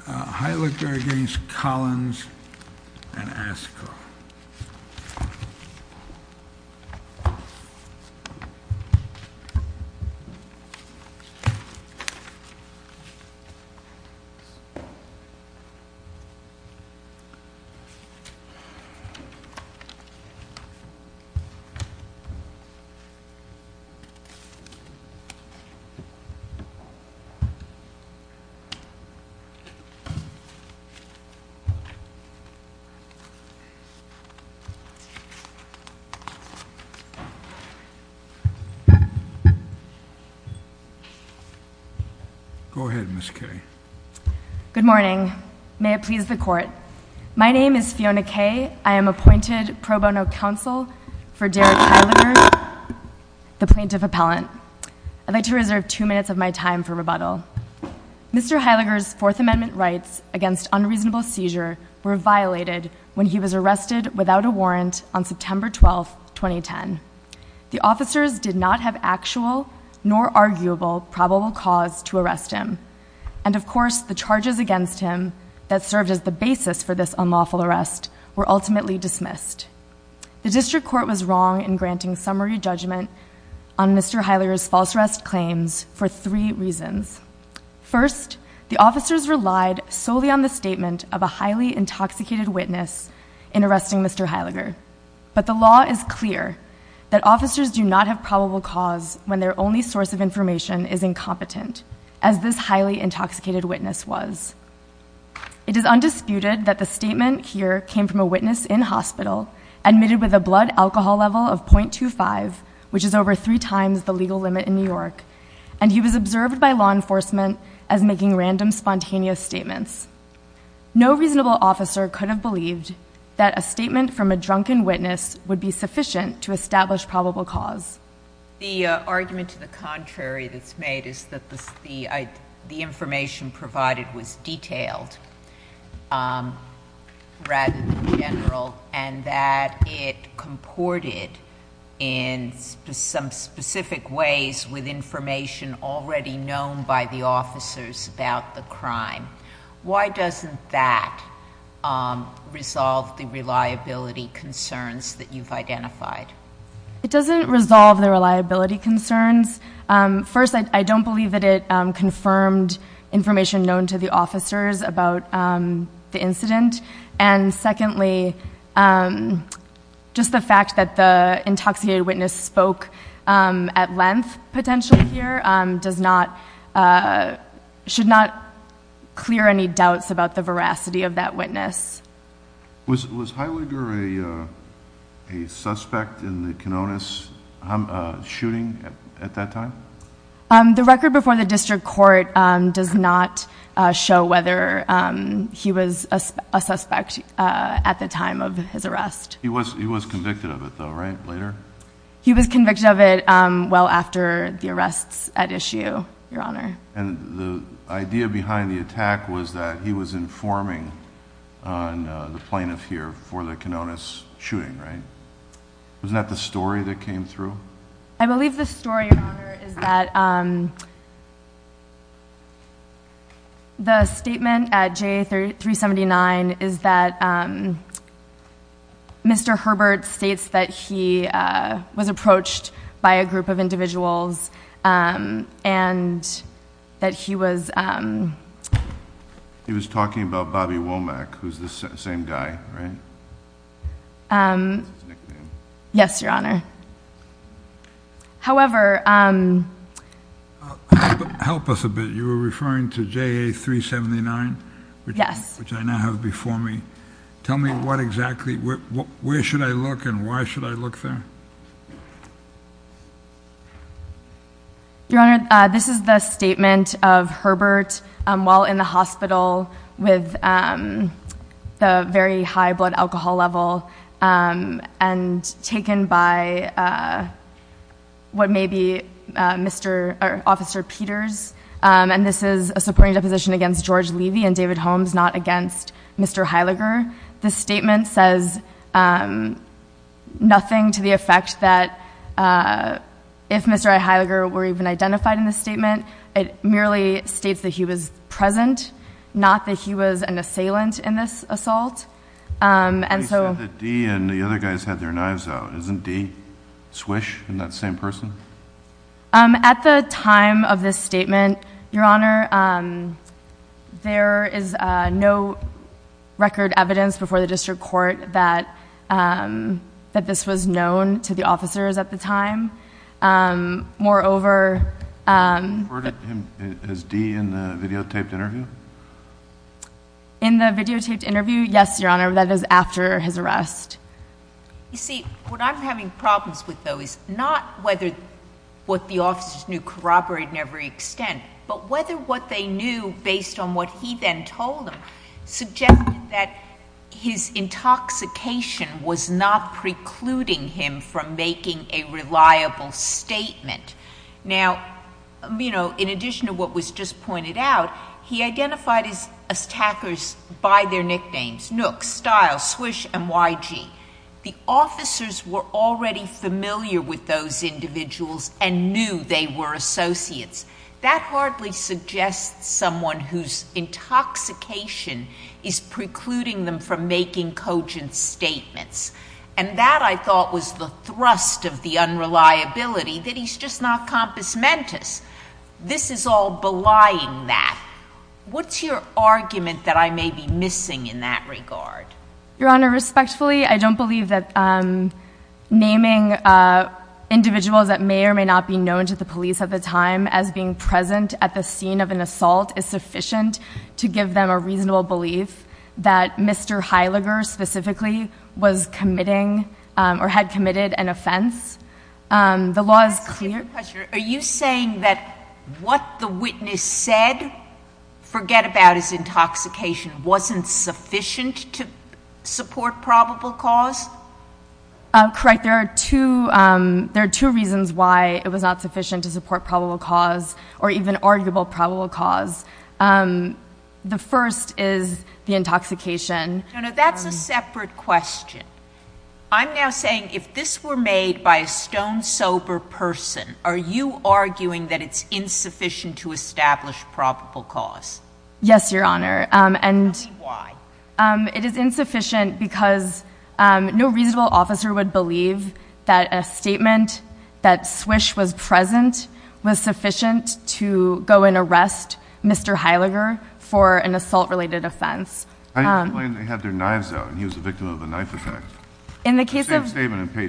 Heiliger against Collins and Askew. Good morning. May it please the court. My name is Fiona Kaye. I am appointed pro bono counsel for Derek Heiliger, the plaintiff appellant. I'd like to reserve two minutes of my time for rebuttal. Mr. Heiliger's Fourth Amendment rights against unreasonable seizure were violated when he was arrested without a warrant on September 12, 2010. The officers did not have actual nor arguable probable cause to arrest him. And of course, the charges against him that served as the basis for this unlawful arrest were ultimately dismissed. The district court was wrong in granting summary judgment on Mr. Heiliger's false arrest claims for three reasons. First, the officers relied solely on the statement of a highly intoxicated witness in arresting Mr. Heiliger. But the law is clear that officers do not have probable cause when their only source of information is incompetent, as this highly intoxicated witness was. It is undisputed that the statement here came from a witness in hospital admitted with a blood alcohol level of .25, which is over three times the legal limit in New York, and he was observed by law enforcement as making random spontaneous statements. No reasonable officer could have believed that a statement from a drunken witness would be sufficient to establish probable cause. The argument to the contrary that's made is that the information provided was detailed, rather than general, and that it comported in some specific ways with information already known by the officers about the crime. Why doesn't that resolve the reliability concerns that you've identified? It doesn't resolve the reliability concerns. First, I don't believe that it confirmed information known to the officers about the incident. And secondly, just the fact that the intoxicated witness spoke at length, potentially, here should not clear any doubts about the veracity of that witness. Was Heidegger a suspect in the Kanonis shooting at that time? The record before the district court does not show whether he was a suspect at the time of his arrest. He was convicted of it though, right? Later? He was convicted of it well after the arrests at issue, your honor. And the idea behind the attack was that he was informing the plaintiff here for the Kanonis shooting, right? Wasn't that the story that came through? I believe the story, your honor, is that the statement at JA 379 is that Mr. Herbert states that he was approached by a group of individuals and that he was... He was talking about Bobby Womack, who's the same guy, right? Yes, your honor. However... Help us a bit. You were referring to JA 379? Yes. Which I now have before me. Tell me what exactly... Where should I look and why should I look there? Your honor, this is the statement of Herbert while in the hospital with the very high blood alcohol level and taken by what may be officer Peters. And this is a supporting deposition against George Levy and David Holmes, not against Mr. Heidegger. This statement says nothing to the effect that if Mr. Heidegger were even identified in this statement, it merely states that he was present, not that he was an assailant in this assault. And so... He said that Dee and the other guys had their knives out. Isn't Dee Swish in that same person? At the time of this statement, your honor, there is no record evidence before the district court that this was known to the officers at the time. Moreover... You referred to him as Dee in the videotaped interview? In the videotaped interview, yes, your honor. That is after his arrest. You see, what I'm having problems with though is not whether what the officers knew corroborated in every extent, but whether what they knew based on what he then told them suggested that his intoxication was not precluding him from making a reliable statement. Now, you know, in addition to what was just pointed out, he identified his attackers by their nicknames, Nook, Stiles, Swish, and YG. The officers were already familiar with those individuals and knew they were associates. That hardly suggests someone whose intoxication is precluding them from making cogent statements. And that, I thought, was the thrust of the unreliability that he's just not compus mentis. This is all belying that. What's your argument that I may be missing in that regard? Your honor, respectfully, I don't believe that naming individuals that may or may not be known to the police at the time as being present at the scene of an assault is sufficient to give them a reasonable belief that Mr. Heiliger specifically was committing or had committed an offense. The law is clear... Are you saying that what the witness said, forget about his intoxication, wasn't sufficient to support probable cause? Correct. There are two reasons why it was not sufficient to support probable cause or even arguable probable cause. The first is the intoxication... No, no, that's a separate question. I'm now saying if this were made by a stone-sober person, are you arguing that it's insufficient to establish probable cause? Yes, your honor. Tell me why. It is insufficient because no reasonable officer would believe that a statement that Swish was present was sufficient to go and arrest Mr. Heiliger for an assault-related offense. I explained they had their knives out and he was a victim of a knife attack. In the case of... Yes, in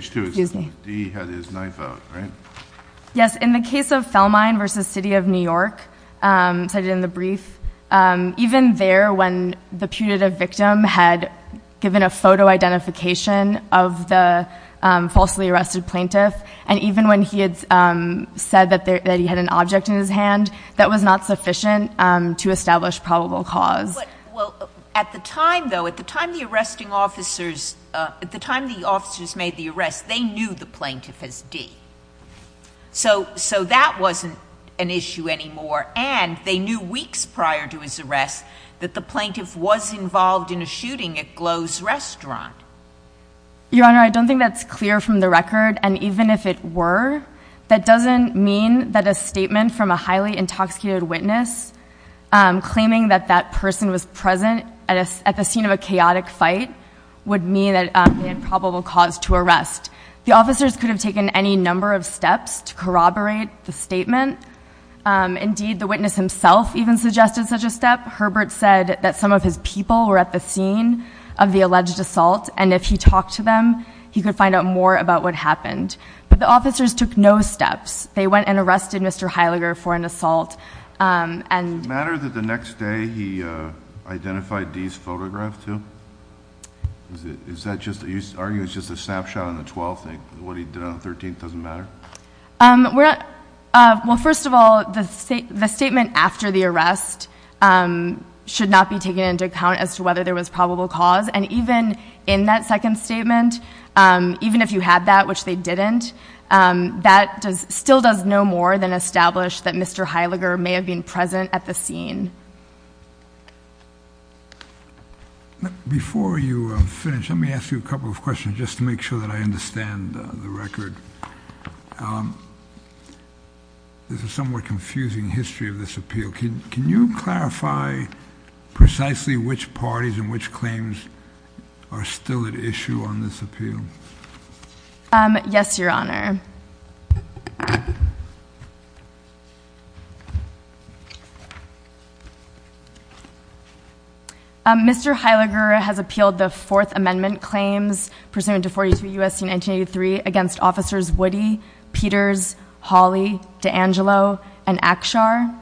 the case of Fellmine v. City of New York, cited in the brief, even there when the putative victim had given a photo identification of the falsely arrested plaintiff, and even when he had said that he had an object in his hand, that was not sufficient to establish probable cause. At the time, though, at the time the arresting officers... At the time the officers made the arrest, they knew the plaintiff as D. So that wasn't an issue anymore and they knew weeks prior to his arrest that the plaintiff was involved in a shooting at Glow's Restaurant. Your honor, I don't think that's clear from the record and even if it were, that doesn't mean that a statement from a highly intoxicated witness claiming that that person was present at the scene of a chaotic fight would mean that they had probable cause to arrest. The officers could have taken any number of steps to corroborate the statement. Indeed, the witness himself even suggested such a step. Herbert said that some of his people were at the scene of the alleged assault and if he talked to them, he could find out more about what happened. But the officers took no steps. They went and arrested Mr. Heiliger for an assault and... Was that by Dee's photograph, too? Is that just... Are you arguing it's just a snapshot on the 12th and what he did on the 13th doesn't matter? Well, first of all, the statement after the arrest should not be taken into account as to whether there was probable cause and even in that second statement, even if you had that, which they didn't, that still does no more than establish that Mr. Heiliger may have been present at the scene. Before you finish, let me ask you a couple of questions just to make sure that I understand the record. This is somewhat confusing history of this appeal. Can you clarify precisely which parties and which claims are still at issue on this appeal? Yes, Your Honor. Mr. Heiliger has appealed the Fourth Amendment claims pursuant to 42 U.S.C. 1983 against officers Woody, Peters, Hawley, DeAngelo, and Akshar.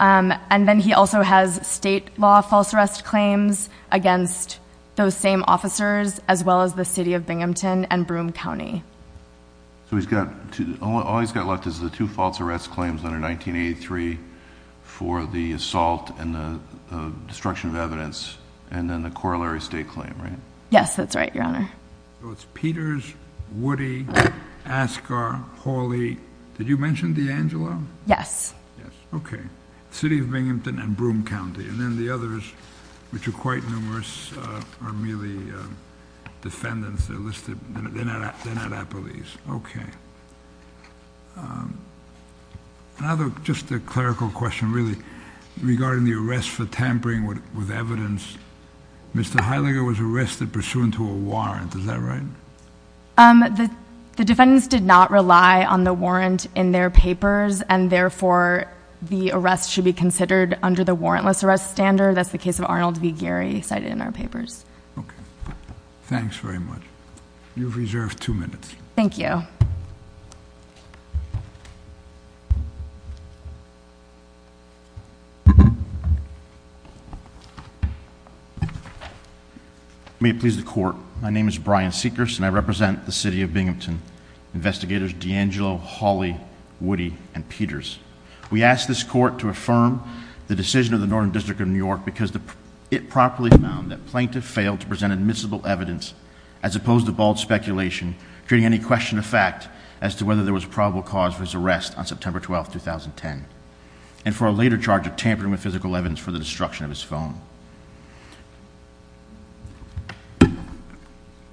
And then he also has state law false arrest claims against those same officers as well as the city of Binghamton and Broome County. So he's got two... All he's got left is the two false arrest claims under 1983 for the assault and the destruction of evidence and then the corollary state claim, right? Yes, that's right, Your Honor. So it's Peters, Woody, Akshar, Hawley. Did you mention DeAngelo? Yes. Yes, okay. City of Binghamton and Broome County. And then the others, which are quite numerous, are merely defendants. They're listed... They're not at police. Okay. Just a clerical question, really, regarding the arrest for tampering with evidence. Mr. Heiliger was arrested pursuant to a warrant. Is that right? The defendants did not rely on the warrant in their papers and therefore the arrest should be considered under the warrantless arrest standard. That's the case of Arnold v. Gary cited in our papers. Okay. Thanks very much. You've reserved two minutes. Thank you. May it please the court. My name is Brian Seekers and I represent the City of Binghamton. Investigators DeAngelo, Hawley, Woody, and Peters. We ask this court to affirm the decision of the Northern District of New York because it properly found that plaintiff failed to present admissible evidence as opposed to bold speculation, creating any question of fact as to whether there was probable cause for his arrest on September 12, 2010, and for a later charge of tampering with physical evidence for the destruction of his phone.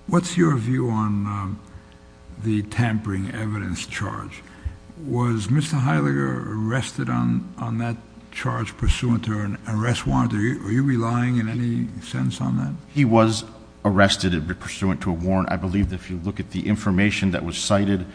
What's your view on the tampering evidence charge? Was Mr. Heiliger arrested on that charge pursuant to an arrest warrant? Are you relying in any sense on that? He was arrested pursuant to a warrant. I believe that if you look at the information that was cited,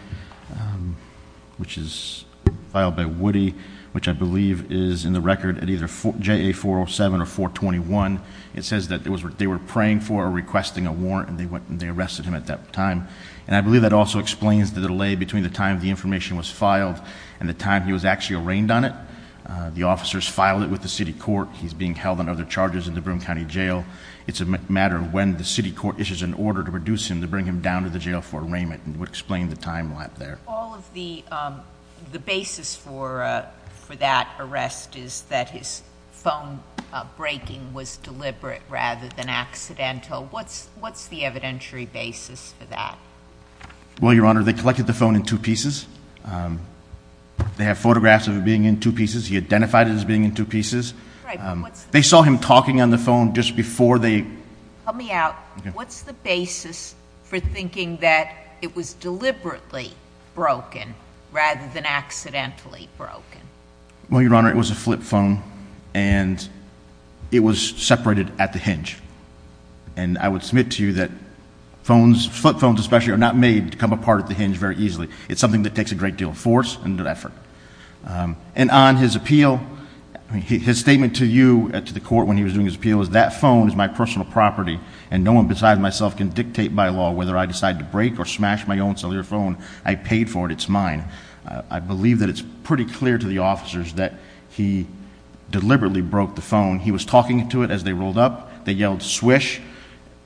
which is filed by Woody, which I believe is in the record at either JA 407 or 421, it says that they were praying for or requesting a warrant and they arrested him at that time. And I believe that also explains the delay between the time the information was filed and the time he was actually arraigned on it. The officers filed it with the city court. He's being held on other charges in the Broome County Jail. It's a matter of when the city court issues an order to reduce him, to bring him down to the jail for arraignment. It would explain the time lapse there. All of the basis for that arrest is that his phone breaking was deliberate rather than accidental. What's the evidentiary basis for that? Well, Your Honor, they collected the phone in two pieces. They have photographs of it being in two pieces. He identified it as being in two pieces. They saw him talking on the phone just before they... Help me out. What's the basis for thinking that it was deliberately broken rather than accidentally broken? Well, Your Honor, it was a flip phone and it was separated at the hinge. And I would submit to you that phones, flip phones especially, are not made to come apart at the hinge very easily. It's something that takes a great deal of force and effort. And on his appeal, his statement to you, to the court when he was doing his appeal, was that phone is my personal property and no one besides myself can dictate by law whether I decide to break or smash my own cellular phone. I paid for it. It's mine. I believe that it's pretty clear to the officers that he deliberately broke the phone. He was talking to it as they rolled up. They yelled swish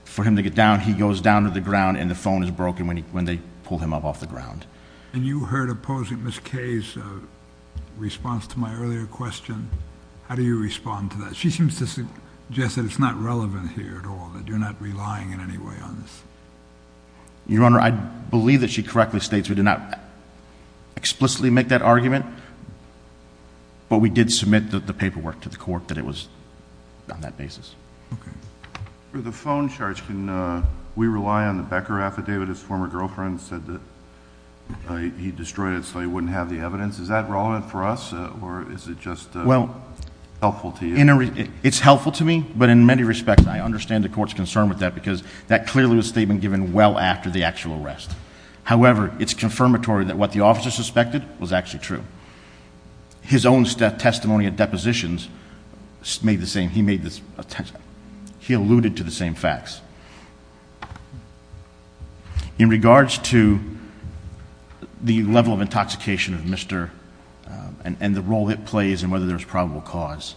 for him to get down. He goes down to the ground and the phone is broken when they pull him up off the ground. And you heard opposing Ms. Kay's response to my earlier question. How do you respond to that? She seems to suggest that it's not relevant here at all, that you're not relying in any way on this. Your Honor, I believe that she correctly states we did not explicitly make that argument, but we did submit the paperwork to the court that it was on that basis. Okay. For the phone charge, can we rely on the Becker affidavit? His former girlfriend said that he destroyed it so he wouldn't have the evidence. Is that relevant for us or is it just helpful to you? It's helpful to me, but in many respects, I understand the court's concern with that because that clearly was a statement given well after the actual arrest. However, it's confirmatory that what the officers suspected was actually true. His own testimony at depositions made the same. He alluded to the same facts. In regards to the level of intoxication of Mr. and the role it plays and whether there's a probable cause,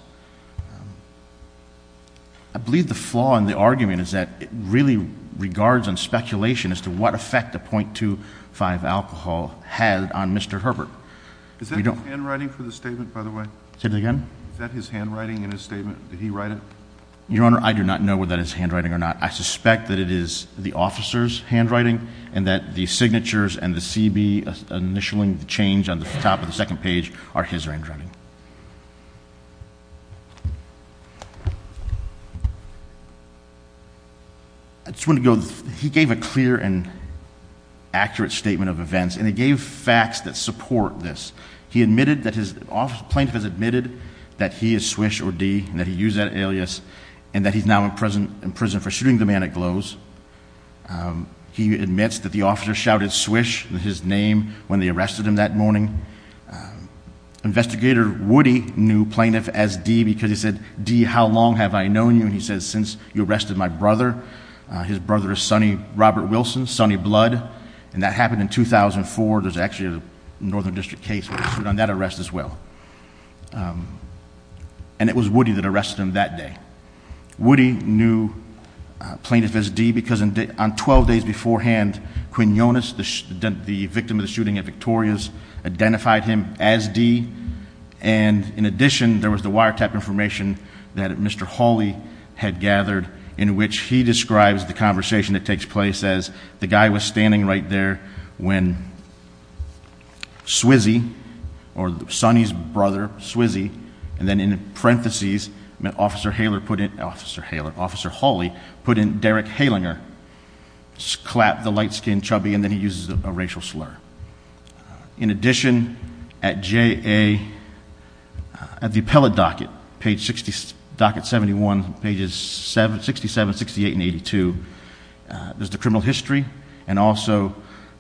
I believe the flaw in the argument is that it really regards on speculation as to what effect the .25 alcohol had on Mr. Herbert. Is that his handwriting for the statement, by the way? Say that again? Is that his handwriting in his statement? Did he write it? Your Honor, I do not know whether that is his handwriting or not. I suspect that it is the officer's handwriting and that the signatures and the CB initialing the change on the top of the second page are his handwriting. He gave a clear and accurate statement of events and he gave facts that support this. He admitted that his plaintiff has admitted that he is Swish or D and that he used that alias and that he's now in prison for shooting the man at Glow's. He admits that the officer shouted Swish, his name, when they arrested him that morning. Investigator Woody knew plaintiff as D because he said, D, how long have I known you? He said, since you arrested my brother. His brother is Sonny Robert Wilson, Sonny Blood. That happened in 2004. There's actually a Northern District case on that arrest as well. It was Woody that arrested him that day. Woody knew plaintiff as D because on 12 days beforehand, Quinn Yonas, the victim of the shooting at Victoria's, identified him as D. And in addition, there was the wiretap information that Mr. Hawley had gathered in which he describes the conversation that takes place as the guy was standing right there when Swizzy, or Sonny's brother, Swizzy, and then in parentheses, Officer Hawley put in Derek Halinger. Just clapped the light-skinned chubby and then he uses a racial slur. In addition, at the appellate docket, page 60, docket 71, pages 67, 68, and 82, there's the criminal history and also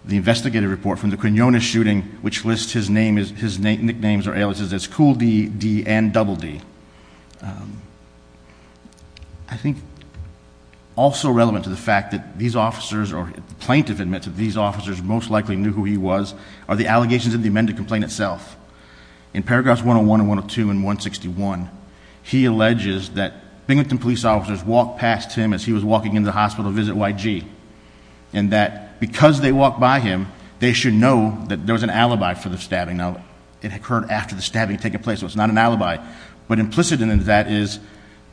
the investigative report from the Quinn Yonas shooting which lists his nicknames or aliases as Cool D, D, and Double D. I think also relevant to the fact that these officers, or the plaintiff admits that these officers most likely knew who he was, are the allegations in the amended complaint itself. In paragraphs 101 and 102 and 161, he alleges that Binghamton police officers walked past him as he was walking into the hospital to visit YG. And that because they walked by him, they should know that there was an alibi for the stabbing. Now, it occurred after the stabbing had taken place, so it's not an alibi. But implicit in that is,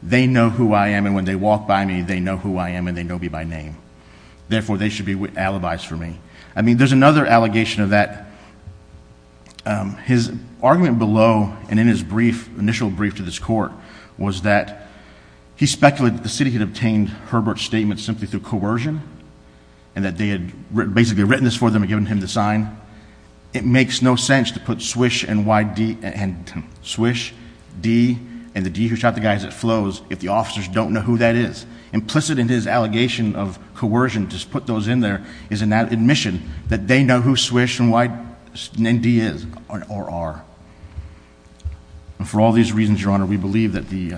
they know who I am and when they walk by me, they know who I am and they know me by name. Therefore, they should be with alibis for me. I mean, there's another allegation of that. His argument below and in his initial brief to this court was that he speculated that the city had obtained Herbert's statement simply through coercion and that they had basically written this for them and given him the sign. It makes no sense to put Swish and YD, and Swish, D, and the D who shot the guy as it flows if the officers don't know who that is. Implicit in his allegation of coercion, just put those in there, is an admission that they know who Swish and Y, and D is, or are. And for all these reasons, Your Honor, we believe that the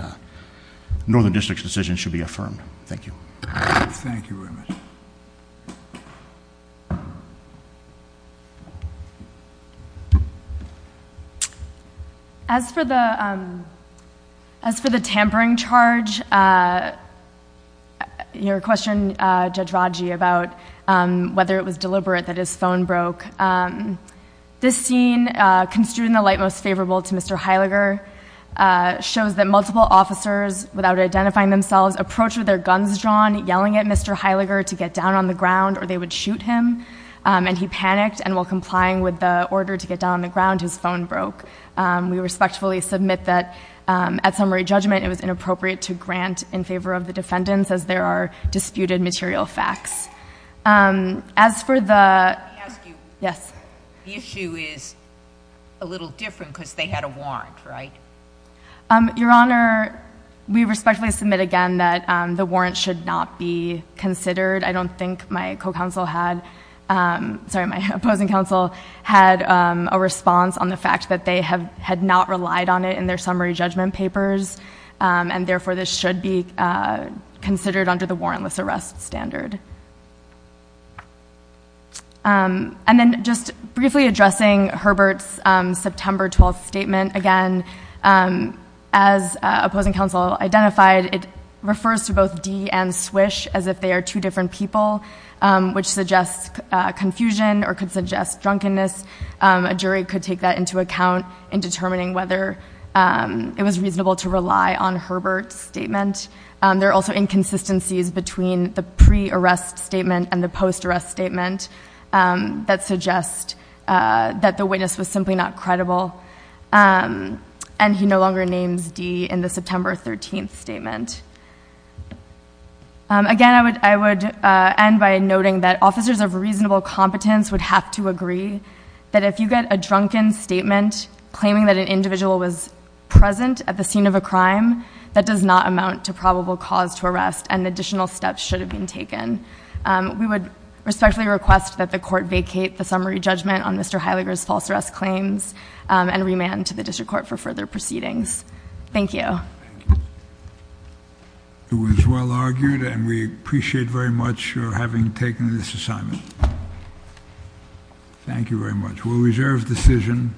Northern District's decision should be affirmed. Thank you. Thank you very much. As for the tampering charge, your question, Judge Raji, about whether it was deliberate that his phone broke. This scene, construed in the light most favorable to Mr. Heileger, shows that multiple officers, without identifying themselves, approached with their guns drawn, yelling at Mr. Heileger to get down on the ground, or they would shoot him. And he panicked, and while complying with the order to get down on the ground, his phone broke. We respectfully submit that at summary judgment, it was inappropriate to grant in favor of the defendants, as there are disputed material facts. As for the- Let me ask you. Yes. The issue is a little different, because they had a warrant, right? Your Honor, we respectfully submit again that the warrant should not be considered. I don't think my opposing counsel had a response on the fact that they had not relied on it in their summary judgment papers. And therefore, this should be considered under the warrantless arrest standard. And then, just briefly addressing Herbert's September 12th statement. Again, as opposing counsel identified, it refers to both Dee and Swish as if they are two different people, which suggests confusion or could suggest drunkenness. A jury could take that into account in determining whether it was reasonable to rely on Herbert's statement. There are also inconsistencies between the pre-arrest statement and the post-arrest statement that suggest that the witness was simply not credible. And he no longer names Dee in the September 13th statement. Again, I would end by noting that officers of reasonable competence would have to agree that if you get a drunken statement claiming that an individual was present at the scene of a crime, that does not amount to probable cause to arrest and additional steps should have been taken. We would respectfully request that the court vacate the summary judgment on Mr. Heidegger's false arrest claims and remand to the district court for further proceedings. Thank you. It was well argued and we appreciate very much your having taken this assignment. Thank you very much. We'll reserve decision.